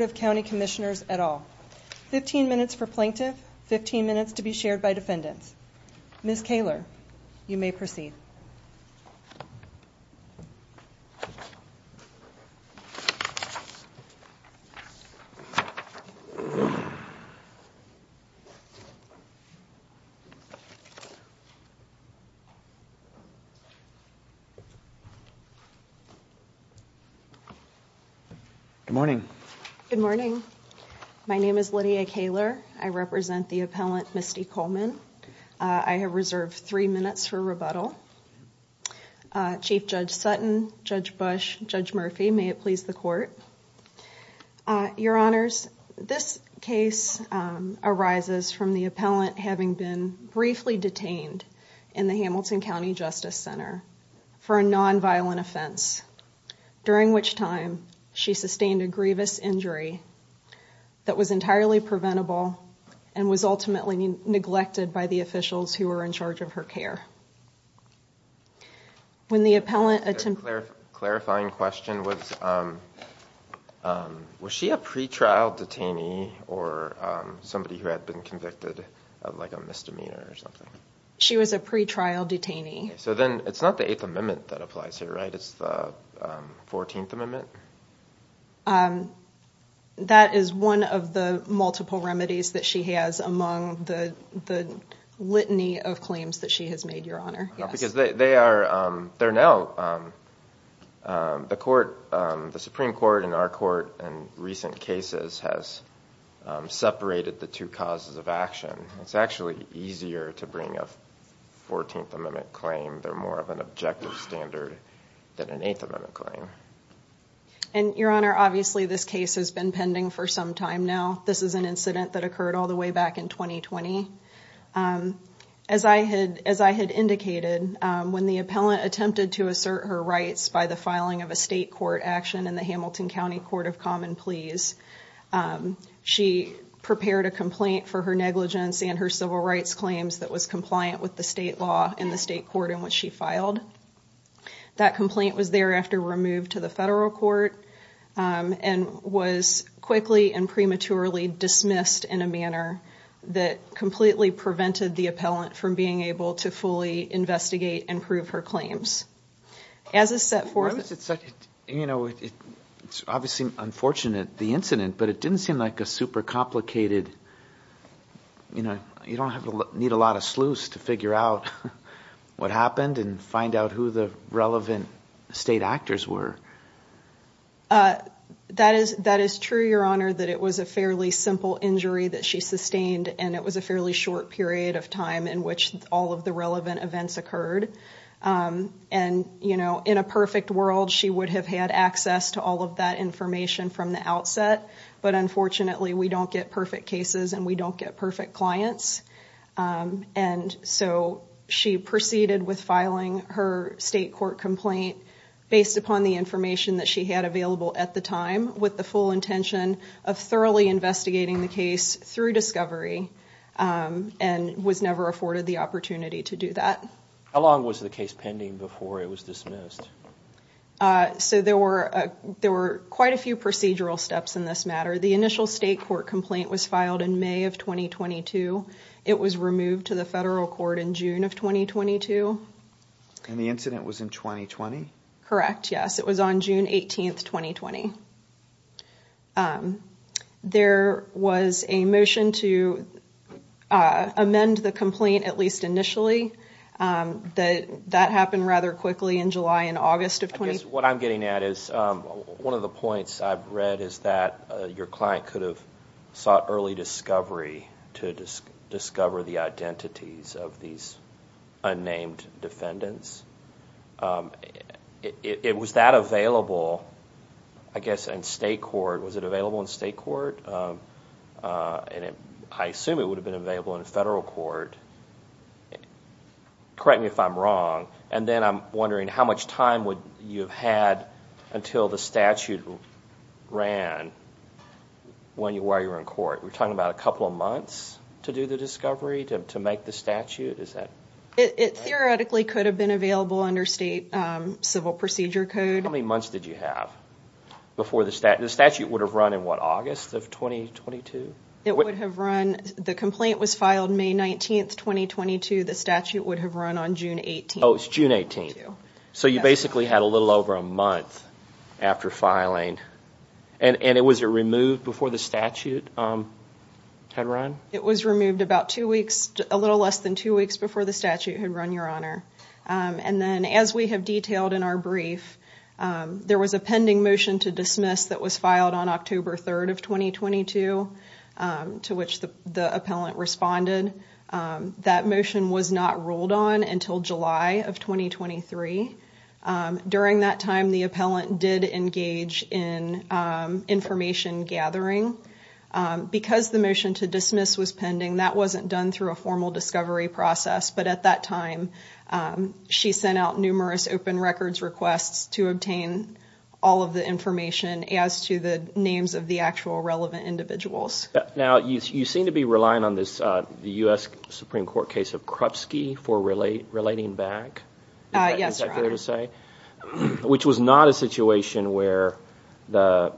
of County Commissioners et al. 15 minutes for plaintiff, 15 minutes to be shared by defendants. Ms. Kaler, you may proceed. Good morning. Good morning. My name is Lydia Kaler. I represent the appellant, Misty Coleman. I have reserved three minutes for rebuttal. Chief Judge Sutton, Judge Bush, Judge Murphy, may it please the court. Your Honors, this case arises from the appellant having been briefly detained in the Hamilton County Justice Center for a non-violent offense, during which time she sustained a grievous injury that was entirely preventable and was ultimately neglected by the officials who were in charge of her care. Clarifying question, was she a pre-trial detainee or somebody who had been convicted of a misdemeanor or something? She was a pre-trial detainee. So then it's not the 8th Amendment that applies here, right? It's the 14th Amendment? That is one of the multiple remedies that she has among the litany of claims that she has made, Your Honor. Because the Supreme Court and our court in recent cases has separated the two causes of action. It's actually easier to bring a 14th Amendment claim. They're more of an objective standard than an 8th Amendment claim. Your Honor, obviously this case has been pending for some time now. This is an incident that occurred all the way back in 2020. As I had indicated, when the appellant attempted to assert her rights by the filing of a state court action in the Hamilton County Court of Common Pleas, she prepared a complaint for her negligence and her civil rights claims that was compliant with the state law and the state court in which she filed. That complaint was thereafter removed to the federal court and was quickly and prematurely dismissed in a manner that completely prevented the appellant from being able to fully investigate and prove her claims. It's obviously unfortunate, the incident, but it didn't seem like a super complicated, you know, you don't need a lot of sleuths to figure out what happened and find out who the relevant state actors were. That is true, Your Honor, that it was a fairly simple injury that she sustained and it was a fairly short period of time in which all of the relevant events occurred. And, you know, in a perfect world she would have had access to all of that information from the outset, but unfortunately we don't get perfect cases and we don't get perfect clients. And so she proceeded with filing her state court complaint based upon the information that she had available at the time with the full intention of thoroughly investigating the case through discovery and was never afforded the opportunity to do that. How long was the case pending before it was dismissed? So there were quite a few procedural steps in this matter. The initial state court complaint was filed in May of 2022. It was removed to the federal court in June of 2022. And the incident was in 2020? Correct, yes. It was on June 18th, 2020. There was a motion to amend the complaint, at least initially. That happened rather quickly in July and August of 2020. What I'm getting at is one of the points I've read is that your client could have sought early discovery to discover the identities of these unnamed defendants. It was that available, I guess, in state court. Was it available in state court? And I assume it would have been available in federal court. Correct me if I'm wrong, and then I'm wondering how much time would you have had until the statute ran while you were in court? We're talking about a couple of months to do the discovery, to make the statute? It theoretically could have been available under state civil procedure code. How many months did you have before the statute? The statute would have run in what, August of 2022? The complaint was filed May 19th, 2022. The statute would have run on June 18th. Oh, it's June 18th. So you basically had a little over a month after filing. And was it removed before the statute had run? It was removed a little less than two weeks before the statute had run, Your Honor. And then as we have detailed in our brief, there was a pending motion to dismiss that was filed on October 3rd of 2022, to which the appellant responded. That motion was not ruled on until July of 2023. During that time, the appellant did engage in information gathering. Because the motion to dismiss was pending, that wasn't done through a formal discovery process. But at that time, she sent out numerous open records requests to obtain all of the information as to the names of the actual relevant individuals. Now, you seem to be relying on the U.S. Supreme Court case of Krupski for relating back. Yes, Your Honor. Which was not a situation where the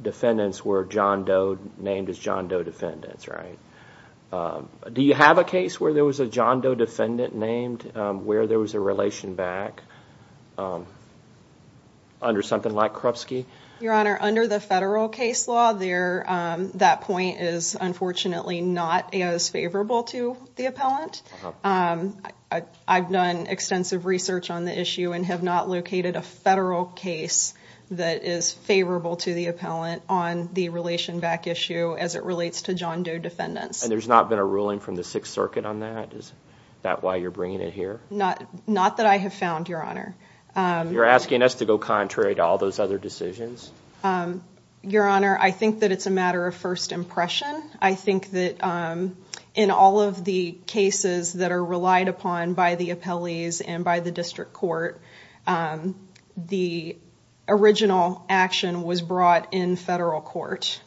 defendants were John Doe named as John Doe defendants, right? Do you have a case where there was a John Doe defendant named where there was a relation back under something like Krupski? Your Honor, under the federal case law, that point is unfortunately not as favorable to the appellant. I've done extensive research on the issue and have not located a federal case that is favorable to the appellant on the relation back issue as it relates to John Doe defendants. And there's not been a ruling from the Sixth Circuit on that? Is that why you're bringing it here? Not that I have found, Your Honor. You're asking us to go contrary to all those other decisions? Your Honor, I think that it's a matter of first impression. I think that in all of the cases that are relied upon by the appellees and by the district court, the original action was brought in federal court.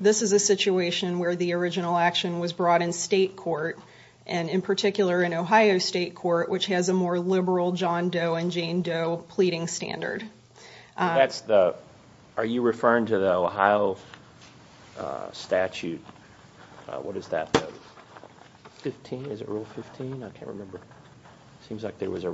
This is a situation where the original action was brought in state court, and in particular in Ohio State Court, which has a more liberal John Doe and Jane Doe pleading standard. Are you referring to the Ohio statute? What is that? 15? Is it Rule 15? I can't remember. It seems like there was a...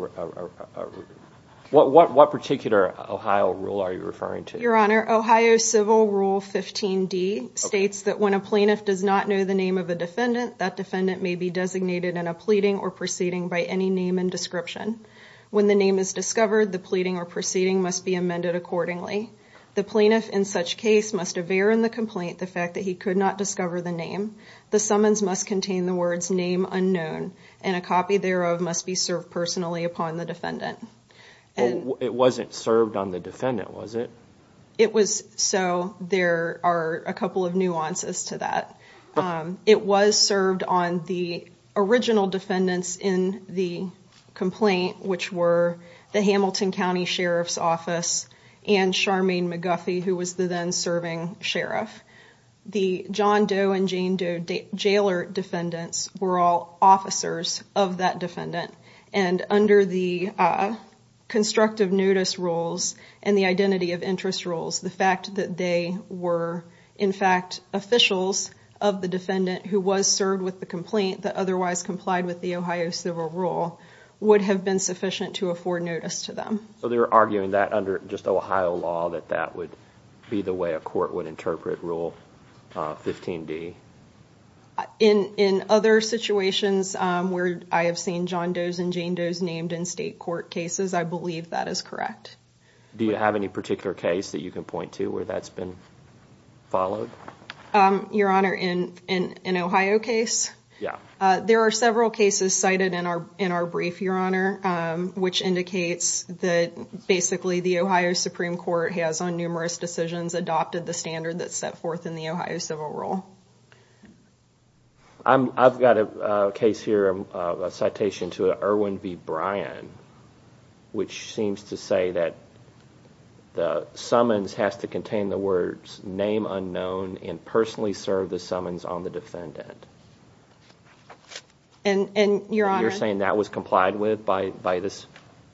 What particular Ohio rule are you referring to? Your Honor, Ohio Civil Rule 15D states that when a plaintiff does not know the name of a defendant, that defendant may be designated in a pleading or proceeding by any name and description. When the name is discovered, the pleading or proceeding must be amended accordingly. The plaintiff in such case must aver in the complaint the fact that he could not discover the name. The summons must contain the words name unknown, and a copy thereof must be served personally upon the defendant. It wasn't served on the defendant, was it? It was, so there are a couple of nuances to that. It was served on the original defendants in the complaint, which were the Hamilton County Sheriff's Office and Charmaine McGuffey, who was the then serving sheriff. The John Doe and Jane Doe jailer defendants were all officers of that defendant. Under the constructive notice rules and the identity of interest rules, the fact that they were in fact officials of the defendant who was served with the complaint that otherwise complied with the Ohio Civil Rule would have been sufficient to afford notice to them. So they were arguing that under just Ohio law that that would be the way a court would interpret Rule 15D? In other situations where I have seen John Doe's and Jane Doe's named in state court cases, I believe that is correct. Do you have any particular case that you can point to where that's been followed? Your Honor, in an Ohio case? Yeah. There are several cases cited in our brief, Your Honor, which indicates that basically the Ohio Supreme Court has on numerous decisions adopted the standard that's set forth in the Ohio Civil Rule. I've got a case here, a citation to Irwin v. Bryan, which seems to say that the summons has to contain the words, name unknown, and personally serve the summons on the defendant. And, Your Honor? You're saying that was complied with by this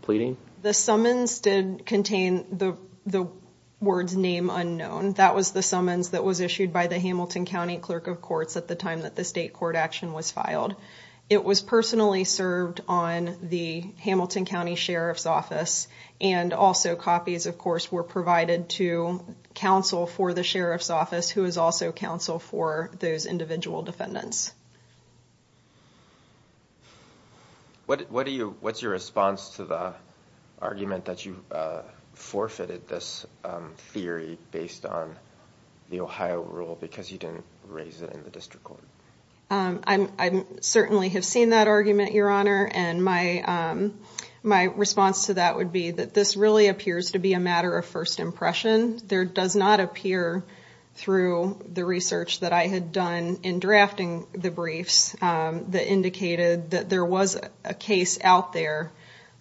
pleading? The summons did contain the words, name unknown. That was the summons that was issued by the Hamilton County Clerk of Courts at the time that the state court action was filed. It was personally served on the Hamilton County Sheriff's Office, and also copies, of course, were provided to counsel for the Sheriff's Office, who is also counsel for those individual defendants. What's your response to the argument that you forfeited this theory based on the Ohio rule because you didn't raise it in the district court? I certainly have seen that argument, Your Honor, and my response to that would be that this really appears to be a matter of first impression. There does not appear, through the research that I had done in drafting the briefs, that indicated that there was a case out there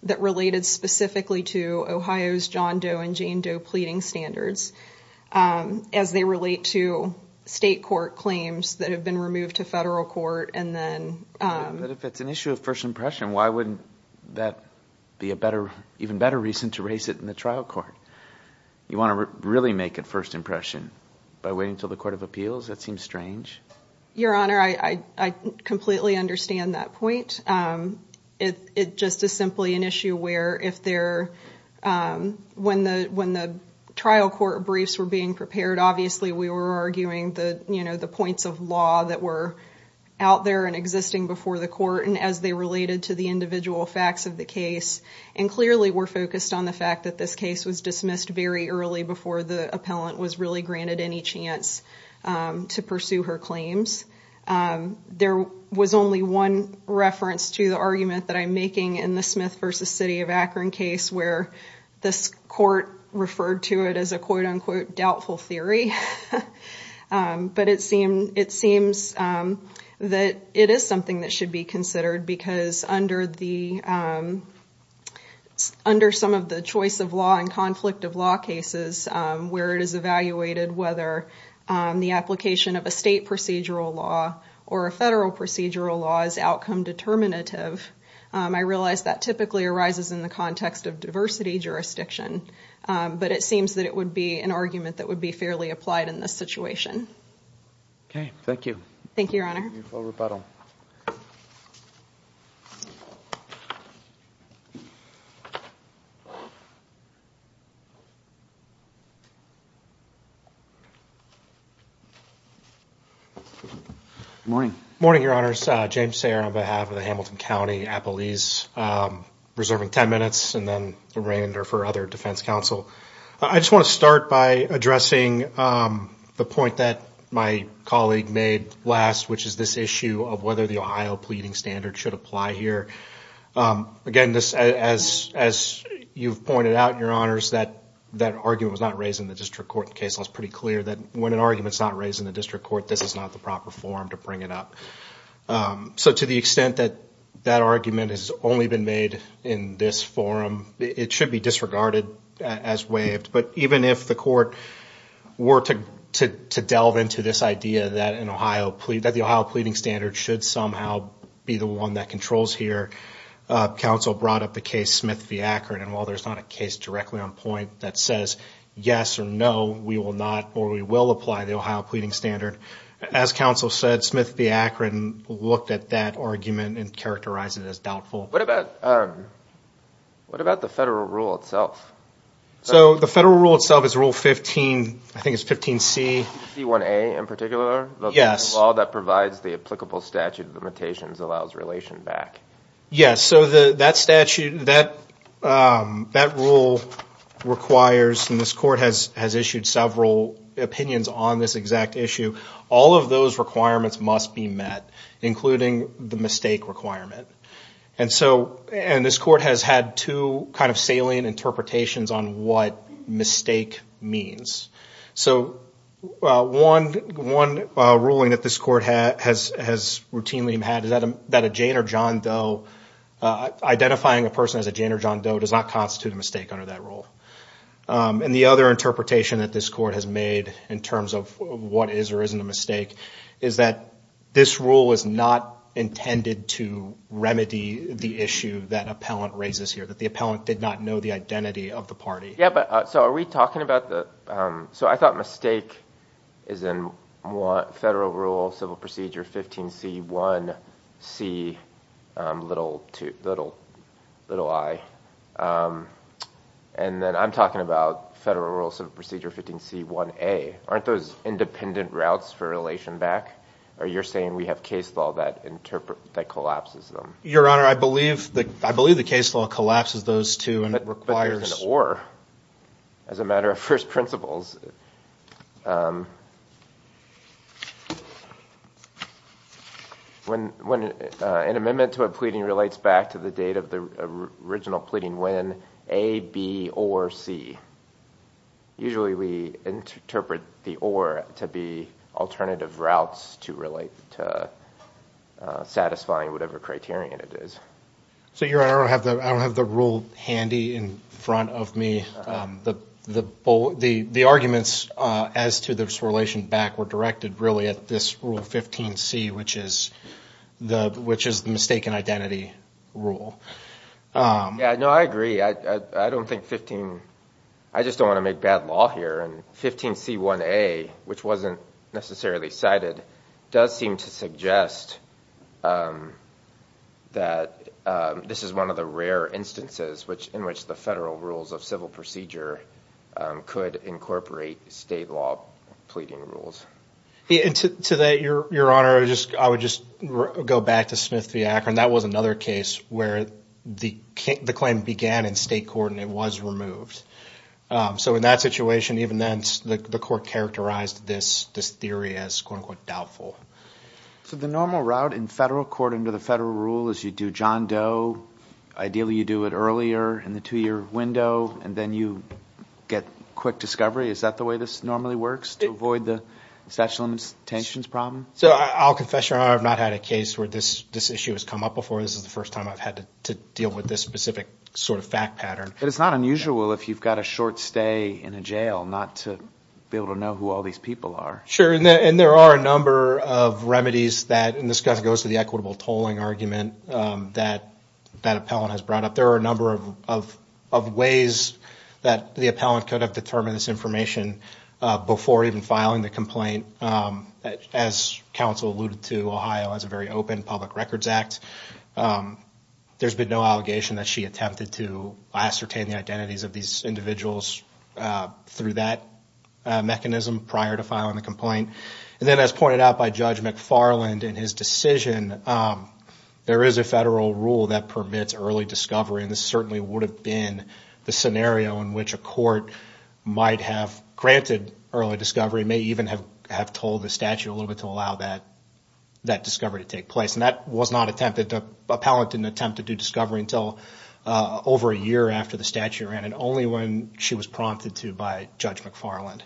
that related specifically to Ohio's John Doe and Jane Doe pleading standards, as they relate to state court claims that have been removed to federal court and then... But if it's an issue of first impression, why wouldn't that be an even better reason to raise it in the trial court? You want to really make a first impression by waiting until the Court of Appeals? That seems strange. Your Honor, I completely understand that point. It just is simply an issue where, when the trial court briefs were being prepared, obviously we were arguing the points of law that were out there and existing before the court and as they related to the individual facts of the case. And clearly we're focused on the fact that this case was dismissed very early before the appellant was really granted any chance to pursue her claims. There was only one reference to the argument that I'm making in the Smith v. City of Akron case where this court referred to it as a quote-unquote doubtful theory. But it seems that it is something that should be considered because under some of the choice of law and conflict of law cases where it is evaluated whether the application of a state procedural law or a federal procedural law is outcome determinative, I realize that typically arises in the context of diversity jurisdiction. But it seems that it would be an argument that would be fairly applied in this situation. Okay, thank you. Thank you, Your Honor. Good morning. Good morning, Your Honors. James Sayer on behalf of the Hamilton County Appellees. Reserving 10 minutes and then remainder for other defense counsel. I just want to start by addressing the point that my colleague made last, which is this issue of whether the Ohio pleading standard should apply here. Again, as you've pointed out, Your Honors, that argument was not raised in the district court case. That's pretty clear that when an argument is not raised in the district court, this is not the proper forum to bring it up. So to the extent that that argument has only been made in this forum, it should be disregarded as waived. But even if the court were to delve into this idea that the Ohio pleading standard should somehow be the one that controls here, counsel brought up the case Smith v. Akron. And while there's not a case directly on point that says yes or no, we will not or we will apply the Ohio pleading standard. As counsel said, Smith v. Akron looked at that argument and characterized it as doubtful. What about the federal rule itself? So the federal rule itself is Rule 15, I think it's 15C. C1A in particular? Yes. The law that provides the applicable statute of limitations allows relation back. Yes. So that statute, that rule requires, and this court has issued several opinions on this exact issue. All of those requirements must be met, including the mistake requirement. And this court has had two kind of salient interpretations on what mistake means. So one ruling that this court has routinely had is that a Jane or John Doe, identifying a person as a Jane or John Doe does not constitute a mistake under that rule. And the other interpretation that this court has made in terms of what is or isn't a mistake is that this rule is not intended to remedy the issue that appellant raises here, that the appellant did not know the identity of the party. So I thought mistake is in Federal Rule, Civil Procedure 15C1C2i. And then I'm talking about Federal Rule, Civil Procedure 15C1A. Aren't those independent routes for relation back? Or you're saying we have case law that collapses them? Your Honor, I believe the case law collapses those two and requires. But there's an or as a matter of first principles. When an amendment to a pleading relates back to the date of the original pleading when A, B, or C. Usually we interpret the or to be alternative routes to relate to satisfying whatever criterion it is. So, Your Honor, I don't have the rule handy in front of me. The arguments as to this relation back were directed really at this Rule 15C, which is the mistaken identity rule. No, I agree. I don't think 15. I just don't want to make bad law here. And 15C1A, which wasn't necessarily cited, does seem to suggest that this is one of the rare instances which in which the federal rules of civil procedure could incorporate state law pleading rules. To that, Your Honor, I would just go back to Smith v. Akron. That was another case where the claim began in state court and it was removed. So in that situation, even then, the court characterized this theory as quote-unquote doubtful. So the normal route in federal court under the federal rule is you do John Doe. Ideally you do it earlier in the two-year window and then you get quick discovery. Is that the way this normally works to avoid the statute of limitations problem? So I'll confess, Your Honor, I have not had a case where this issue has come up before. This is the first time I've had to deal with this specific sort of fact pattern. But it's not unusual if you've got a short stay in a jail not to be able to know who all these people are. Sure. And there are a number of remedies that, and this goes to the equitable tolling argument that that appellant has brought up. But there are a number of ways that the appellant could have determined this information before even filing the complaint. As counsel alluded to, Ohio has a very open Public Records Act. There's been no allegation that she attempted to ascertain the identities of these individuals through that mechanism prior to filing the complaint. And then as pointed out by Judge McFarland in his decision, there is a federal rule that permits early discovery. And this certainly would have been the scenario in which a court might have granted early discovery, may even have told the statute a little bit to allow that discovery to take place. And that was not attempted, the appellant didn't attempt to do discovery until over a year after the statute ran, and only when she was prompted to by Judge McFarland.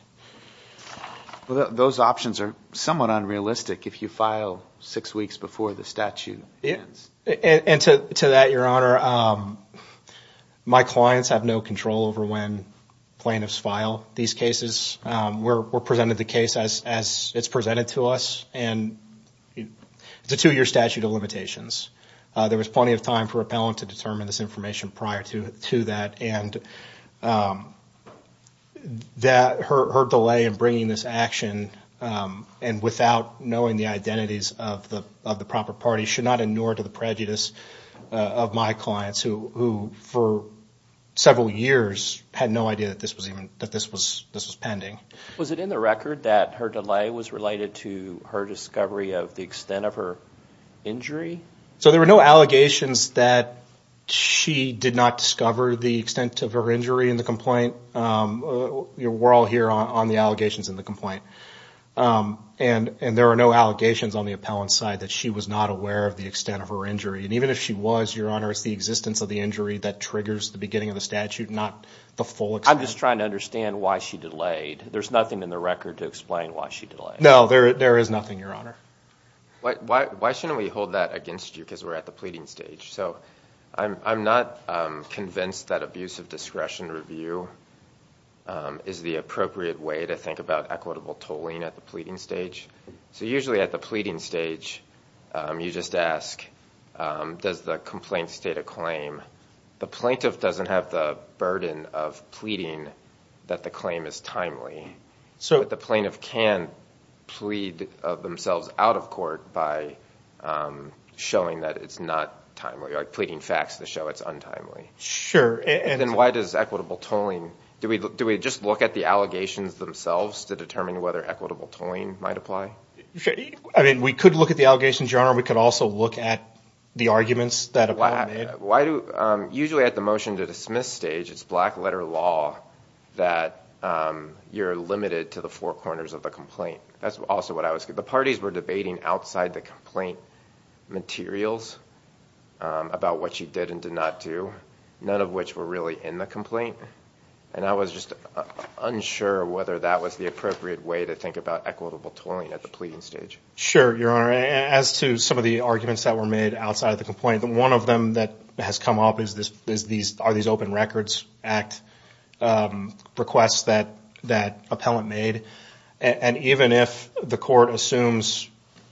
Well, those options are somewhat unrealistic if you file six weeks before the statute ends. And to that, Your Honor, my clients have no control over when plaintiffs file these cases. We're presented the case as it's presented to us, and it's a two-year statute of limitations. There was plenty of time for appellant to determine this information prior to that. And that her delay in bringing this action, and without knowing the identities of the proper party, should not inure to the prejudice of my clients who, for several years, had no idea that this was pending. Was it in the record that her delay was related to her discovery of the extent of her injury? So there were no allegations that she did not discover the extent of her injury in the complaint. We're all here on the allegations in the complaint. And there are no allegations on the appellant's side that she was not aware of the extent of her injury. And even if she was, Your Honor, it's the existence of the injury that triggers the beginning of the statute, not the full extent. I'm just trying to understand why she delayed. There's nothing in the record to explain why she delayed. No, there is nothing, Your Honor. Why shouldn't we hold that against you because we're at the pleading stage? So I'm not convinced that abuse of discretion review is the appropriate way to think about equitable tolling at the pleading stage. So usually at the pleading stage, you just ask, does the complaint state a claim? The plaintiff doesn't have the burden of pleading that the claim is timely. But the plaintiff can plead themselves out of court by showing that it's not timely, like pleading facts to show it's untimely. Sure. Then why does equitable tolling, do we just look at the allegations themselves to determine whether equitable tolling might apply? I mean, we could look at the allegations, Your Honor. We could also look at the arguments that have been made. Usually at the motion to dismiss stage, it's black letter law that you're limited to the four corners of the complaint. That's also what I was – the parties were debating outside the complaint materials about what she did and did not do, none of which were really in the complaint. And I was just unsure whether that was the appropriate way to think about equitable tolling at the pleading stage. Sure, Your Honor. As to some of the arguments that were made outside of the complaint, one of them that has come up is are these open records act requests that appellant made? And even if the court assumes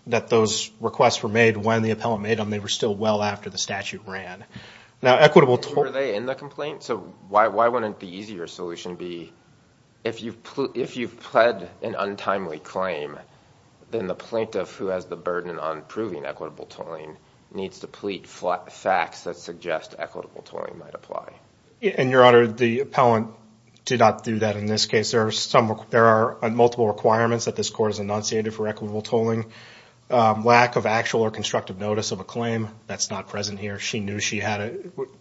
that those requests were made when the appellant made them, they were still well after the statute ran. Now, equitable tolling – Were they in the complaint? So why wouldn't the easier solution be if you've pled an untimely claim, then the plaintiff who has the burden on proving equitable tolling needs to plead facts that suggest equitable tolling might apply? And, Your Honor, the appellant did not do that in this case. There are multiple requirements that this court has enunciated for equitable tolling. Lack of actual or constructive notice of a claim, that's not present here. She knew she had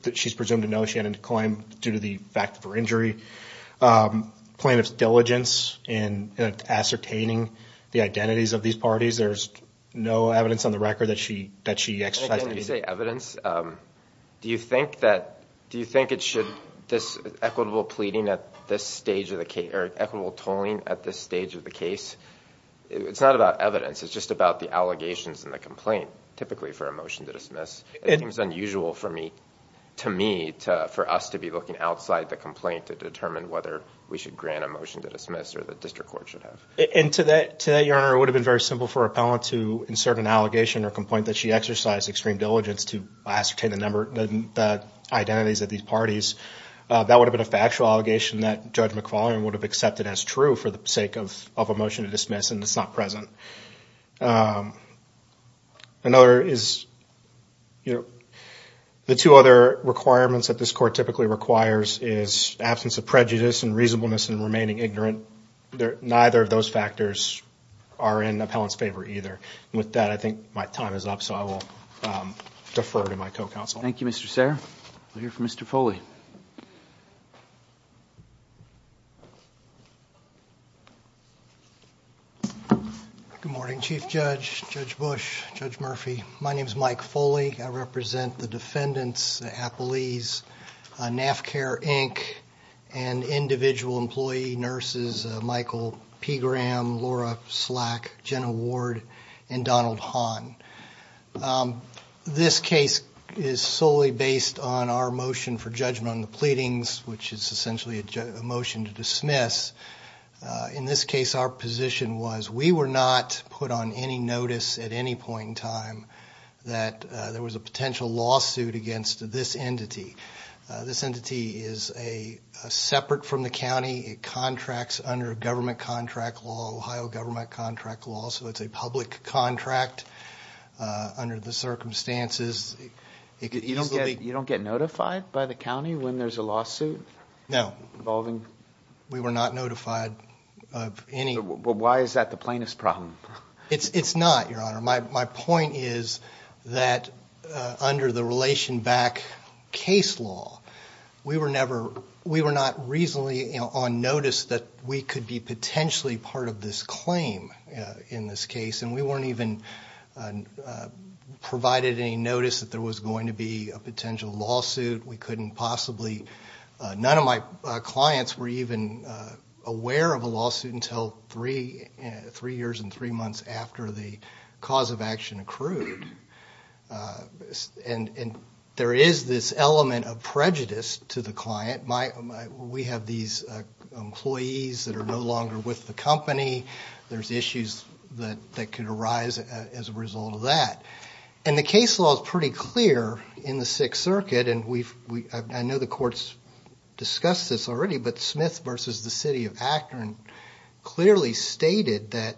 a – she's presumed to know she had a claim due to the fact of her injury. Plaintiff's diligence in ascertaining the identities of these parties. There's no evidence on the record that she exercised any – When you say evidence, do you think that – do you think it should – this equitable pleading at this stage of the – or equitable tolling at this stage of the case, it's not about evidence. It's just about the allegations in the complaint, typically for a motion to dismiss. It seems unusual for me – to me, for us to be looking outside the complaint to determine whether we should grant a motion to dismiss or the district court should have. And to that, Your Honor, it would have been very simple for an appellant to insert an allegation or complaint that she exercised extreme diligence to ascertain the identities of these parties. That would have been a factual allegation that Judge McFarlane would have accepted as true for the sake of a motion to dismiss, and it's not present. Another is – the two other requirements that this court typically requires is absence of prejudice and reasonableness in remaining ignorant. Neither of those factors are in the appellant's favor either. And with that, I think my time is up, so I will defer to my co-counsel. Thank you, Mr. Serra. We'll hear from Mr. Foley. Good morning, Chief Judge, Judge Bush, Judge Murphy. My name is Mike Foley. I represent the defendants, the appellees, NAFCAIR, Inc., and individual employee nurses Michael P. Graham, Laura Slack, Jenna Ward, and Donald Hahn. This case is solely based on our motion for judgment on the pleadings, which is essentially a motion to dismiss. In this case, our position was we were not put on any notice at any point in time that there was a potential lawsuit against this entity. This entity is separate from the county. It contracts under government contract law, Ohio government contract law, so it's a public contract under the circumstances. You don't get notified by the county when there's a lawsuit? No. We were not notified of any. Why is that the plaintiff's problem? It's not, Your Honor. My point is that under the relation back case law, we were not reasonably on notice that we could be potentially part of this claim in this case, and we weren't even provided any notice that there was going to be a potential lawsuit. We couldn't possibly. None of my clients were even aware of a lawsuit until three years and three months after the cause of action accrued. And there is this element of prejudice to the client. We have these employees that are no longer with the company. There's issues that could arise as a result of that. And the case law is pretty clear in the Sixth Circuit, and I know the courts discussed this already, but Smith versus the city of Akron clearly stated that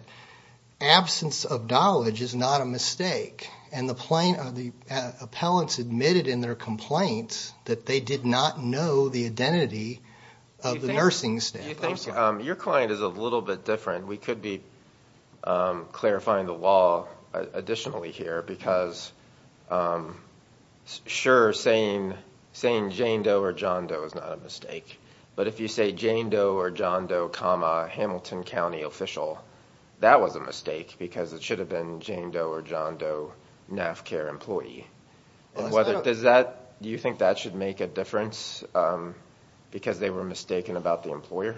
absence of knowledge is not a mistake. And the appellants admitted in their complaints that they did not know the identity of the nursing staff. Do you think your client is a little bit different? We could be clarifying the law additionally here because, sure, saying Jane Doe or John Doe is not a mistake, but if you say Jane Doe or John Doe comma Hamilton County official, that was a mistake because it should have been Jane Doe or John Doe NAFCA employee. Do you think that should make a difference because they were mistaken about the employer?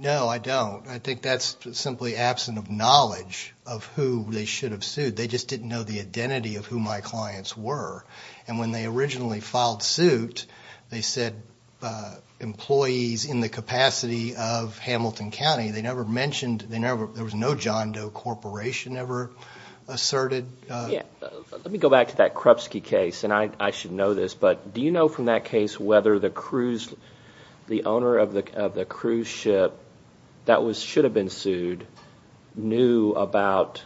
No, I don't. I think that's simply absent of knowledge of who they should have sued. They just didn't know the identity of who my clients were. And when they originally filed suit, they said employees in the capacity of Hamilton County. They never mentioned – there was no John Doe Corporation ever asserted. Let me go back to that Krupsky case, and I should know this, but do you know from that case whether the owner of the cruise ship that should have been sued knew about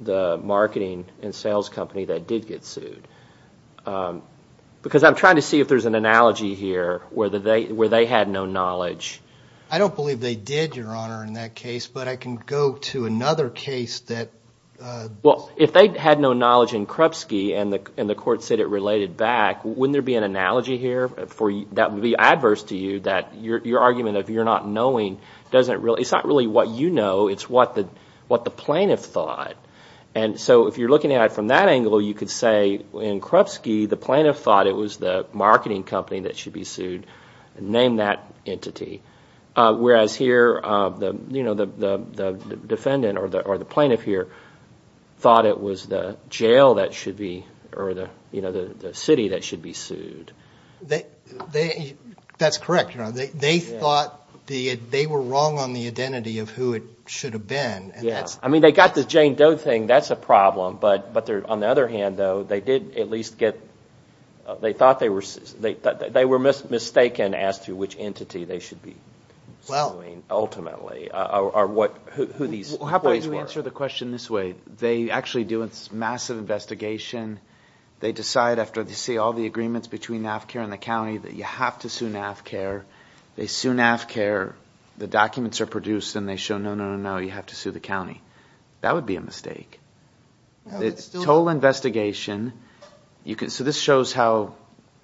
the marketing and sales company that did get sued? Because I'm trying to see if there's an analogy here where they had no knowledge. I don't believe they did, Your Honor, in that case, but I can go to another case that – Well, if they had no knowledge in Krupsky and the court said it related back, wouldn't there be an analogy here that would be adverse to you, that your argument of you're not knowing doesn't – it's not really what you know. It's what the plaintiff thought. And so if you're looking at it from that angle, you could say in Krupsky, the plaintiff thought it was the marketing company that should be sued and named that entity, whereas here the defendant or the plaintiff here thought it was the jail that should be – or the city that should be sued. That's correct, Your Honor. They thought they were wrong on the identity of who it should have been. I mean, they got the Jane Doe thing. That's a problem. But on the other hand, though, they did at least get – they thought they were – they were mistaken as to which entity they should be suing ultimately or who these employees were. How about you answer the question this way? They actually do a massive investigation. They decide after they see all the agreements between NAFCA and the county that you have to sue NAFCA. They sue NAFCA. The documents are produced and they show no, no, no, no, you have to sue the county. That would be a mistake. It's a total investigation. So this shows how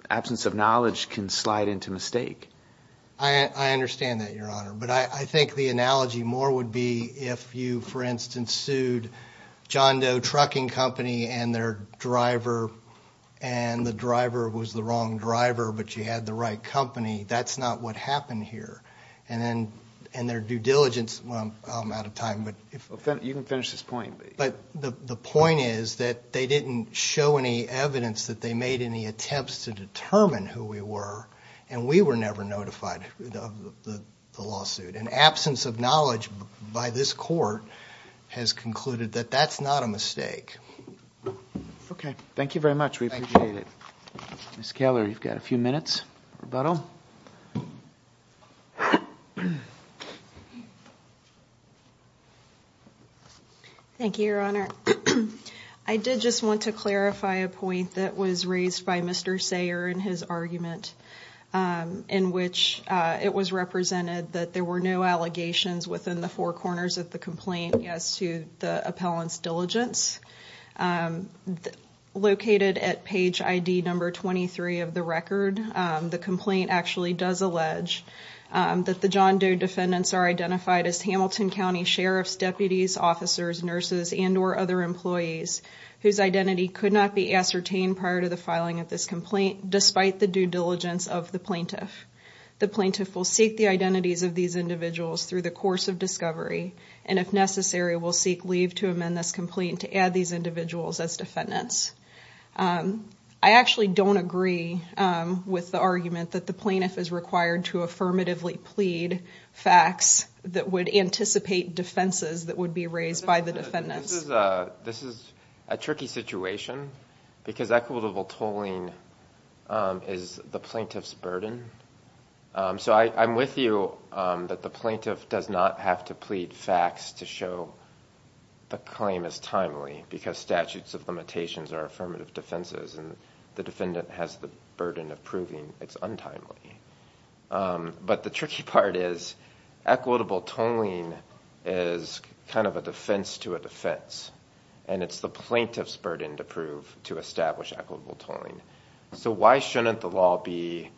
absence of knowledge can slide into mistake. I understand that, Your Honor. But I think the analogy more would be if you, for instance, sued John Doe Trucking Company and their driver and the driver was the wrong driver but you had the right company. That's not what happened here. And their due diligence – well, I'm out of time. You can finish this point. But the point is that they didn't show any evidence that they made any attempts to determine who we were and we were never notified of the lawsuit. An absence of knowledge by this court has concluded that that's not a mistake. Okay. Thank you very much. We appreciate it. Ms. Keller, you've got a few minutes for rebuttal. Thank you, Your Honor. I did just want to clarify a point that was raised by Mr. Sayer in his argument in which it was represented that there were no allegations within the four corners of the complaint as to the appellant's diligence. Located at page ID number 23 of the record, the complaint actually does allege that the John Doe defendants are identified as Hamilton County sheriffs, deputies, officers, nurses, and or other employees whose identity could not be ascertained prior to the filing of this complaint despite the due diligence of the plaintiff. The plaintiff will seek the identities of these individuals through the course of discovery and, if necessary, will seek leave to amend this complaint to add these individuals as defendants. I actually don't agree with the argument that the plaintiff is required to affirmatively plead facts that would anticipate defenses that would be raised by the defendants. This is a tricky situation because equitable tolling is the plaintiff's burden. So I'm with you that the plaintiff does not have to plead facts to show the claim is timely because statutes of limitations are affirmative defenses, and the defendant has the burden of proving it's untimely. But the tricky part is equitable tolling is kind of a defense to a defense, and it's the plaintiff's burden to prove to establish equitable tolling. So why shouldn't the law be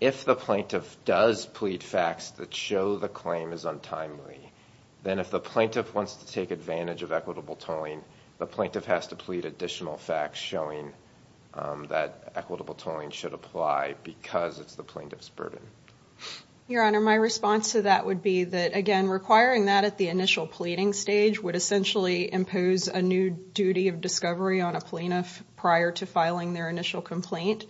if the plaintiff does plead facts that show the claim is untimely, then if the plaintiff wants to take advantage of equitable tolling, the plaintiff has to plead additional facts showing that equitable tolling should apply because it's the plaintiff's burden. Your Honor, my response to that would be that, again, requiring that at the initial pleading stage would essentially impose a new duty of discovery on a plaintiff prior to filing their initial complaint.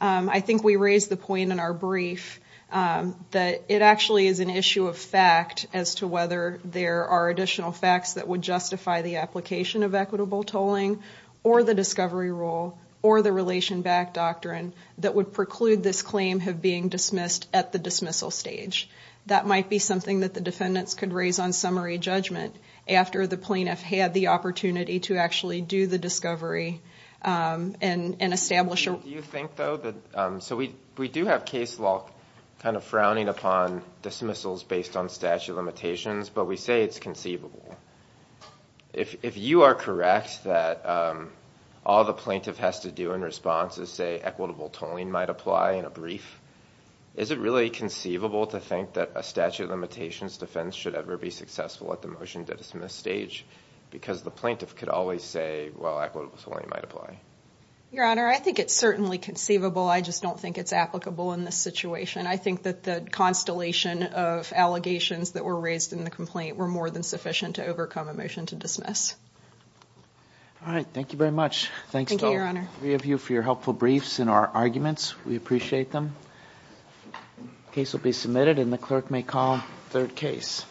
I think we raised the point in our brief that it actually is an issue of fact as to whether there are additional facts that would justify the application of equitable tolling or the discovery rule or the relation back doctrine that would preclude this claim from being dismissed at the dismissal stage. That might be something that the defendants could raise on summary judgment after the plaintiff had the opportunity to actually do the discovery and establish a rule. Do you think, though, that so we do have case law kind of frowning upon dismissals based on statute of limitations, but we say it's conceivable. If you are correct that all the plaintiff has to do in response is say equitable tolling might apply in a brief, is it really conceivable to think that a statute of limitations defense should ever be successful at the motion-to-dismiss stage because the plaintiff could always say, well, equitable tolling might apply? Your Honor, I think it's certainly conceivable. I just don't think it's applicable in this situation. I think that the constellation of allegations that were raised in the complaint were more than sufficient to overcome a motion to dismiss. All right. Thank you very much. Thank you, Your Honor. Thank the three of you for your helpful briefs and our arguments. We appreciate them. The case will be submitted, and the clerk may call the third case.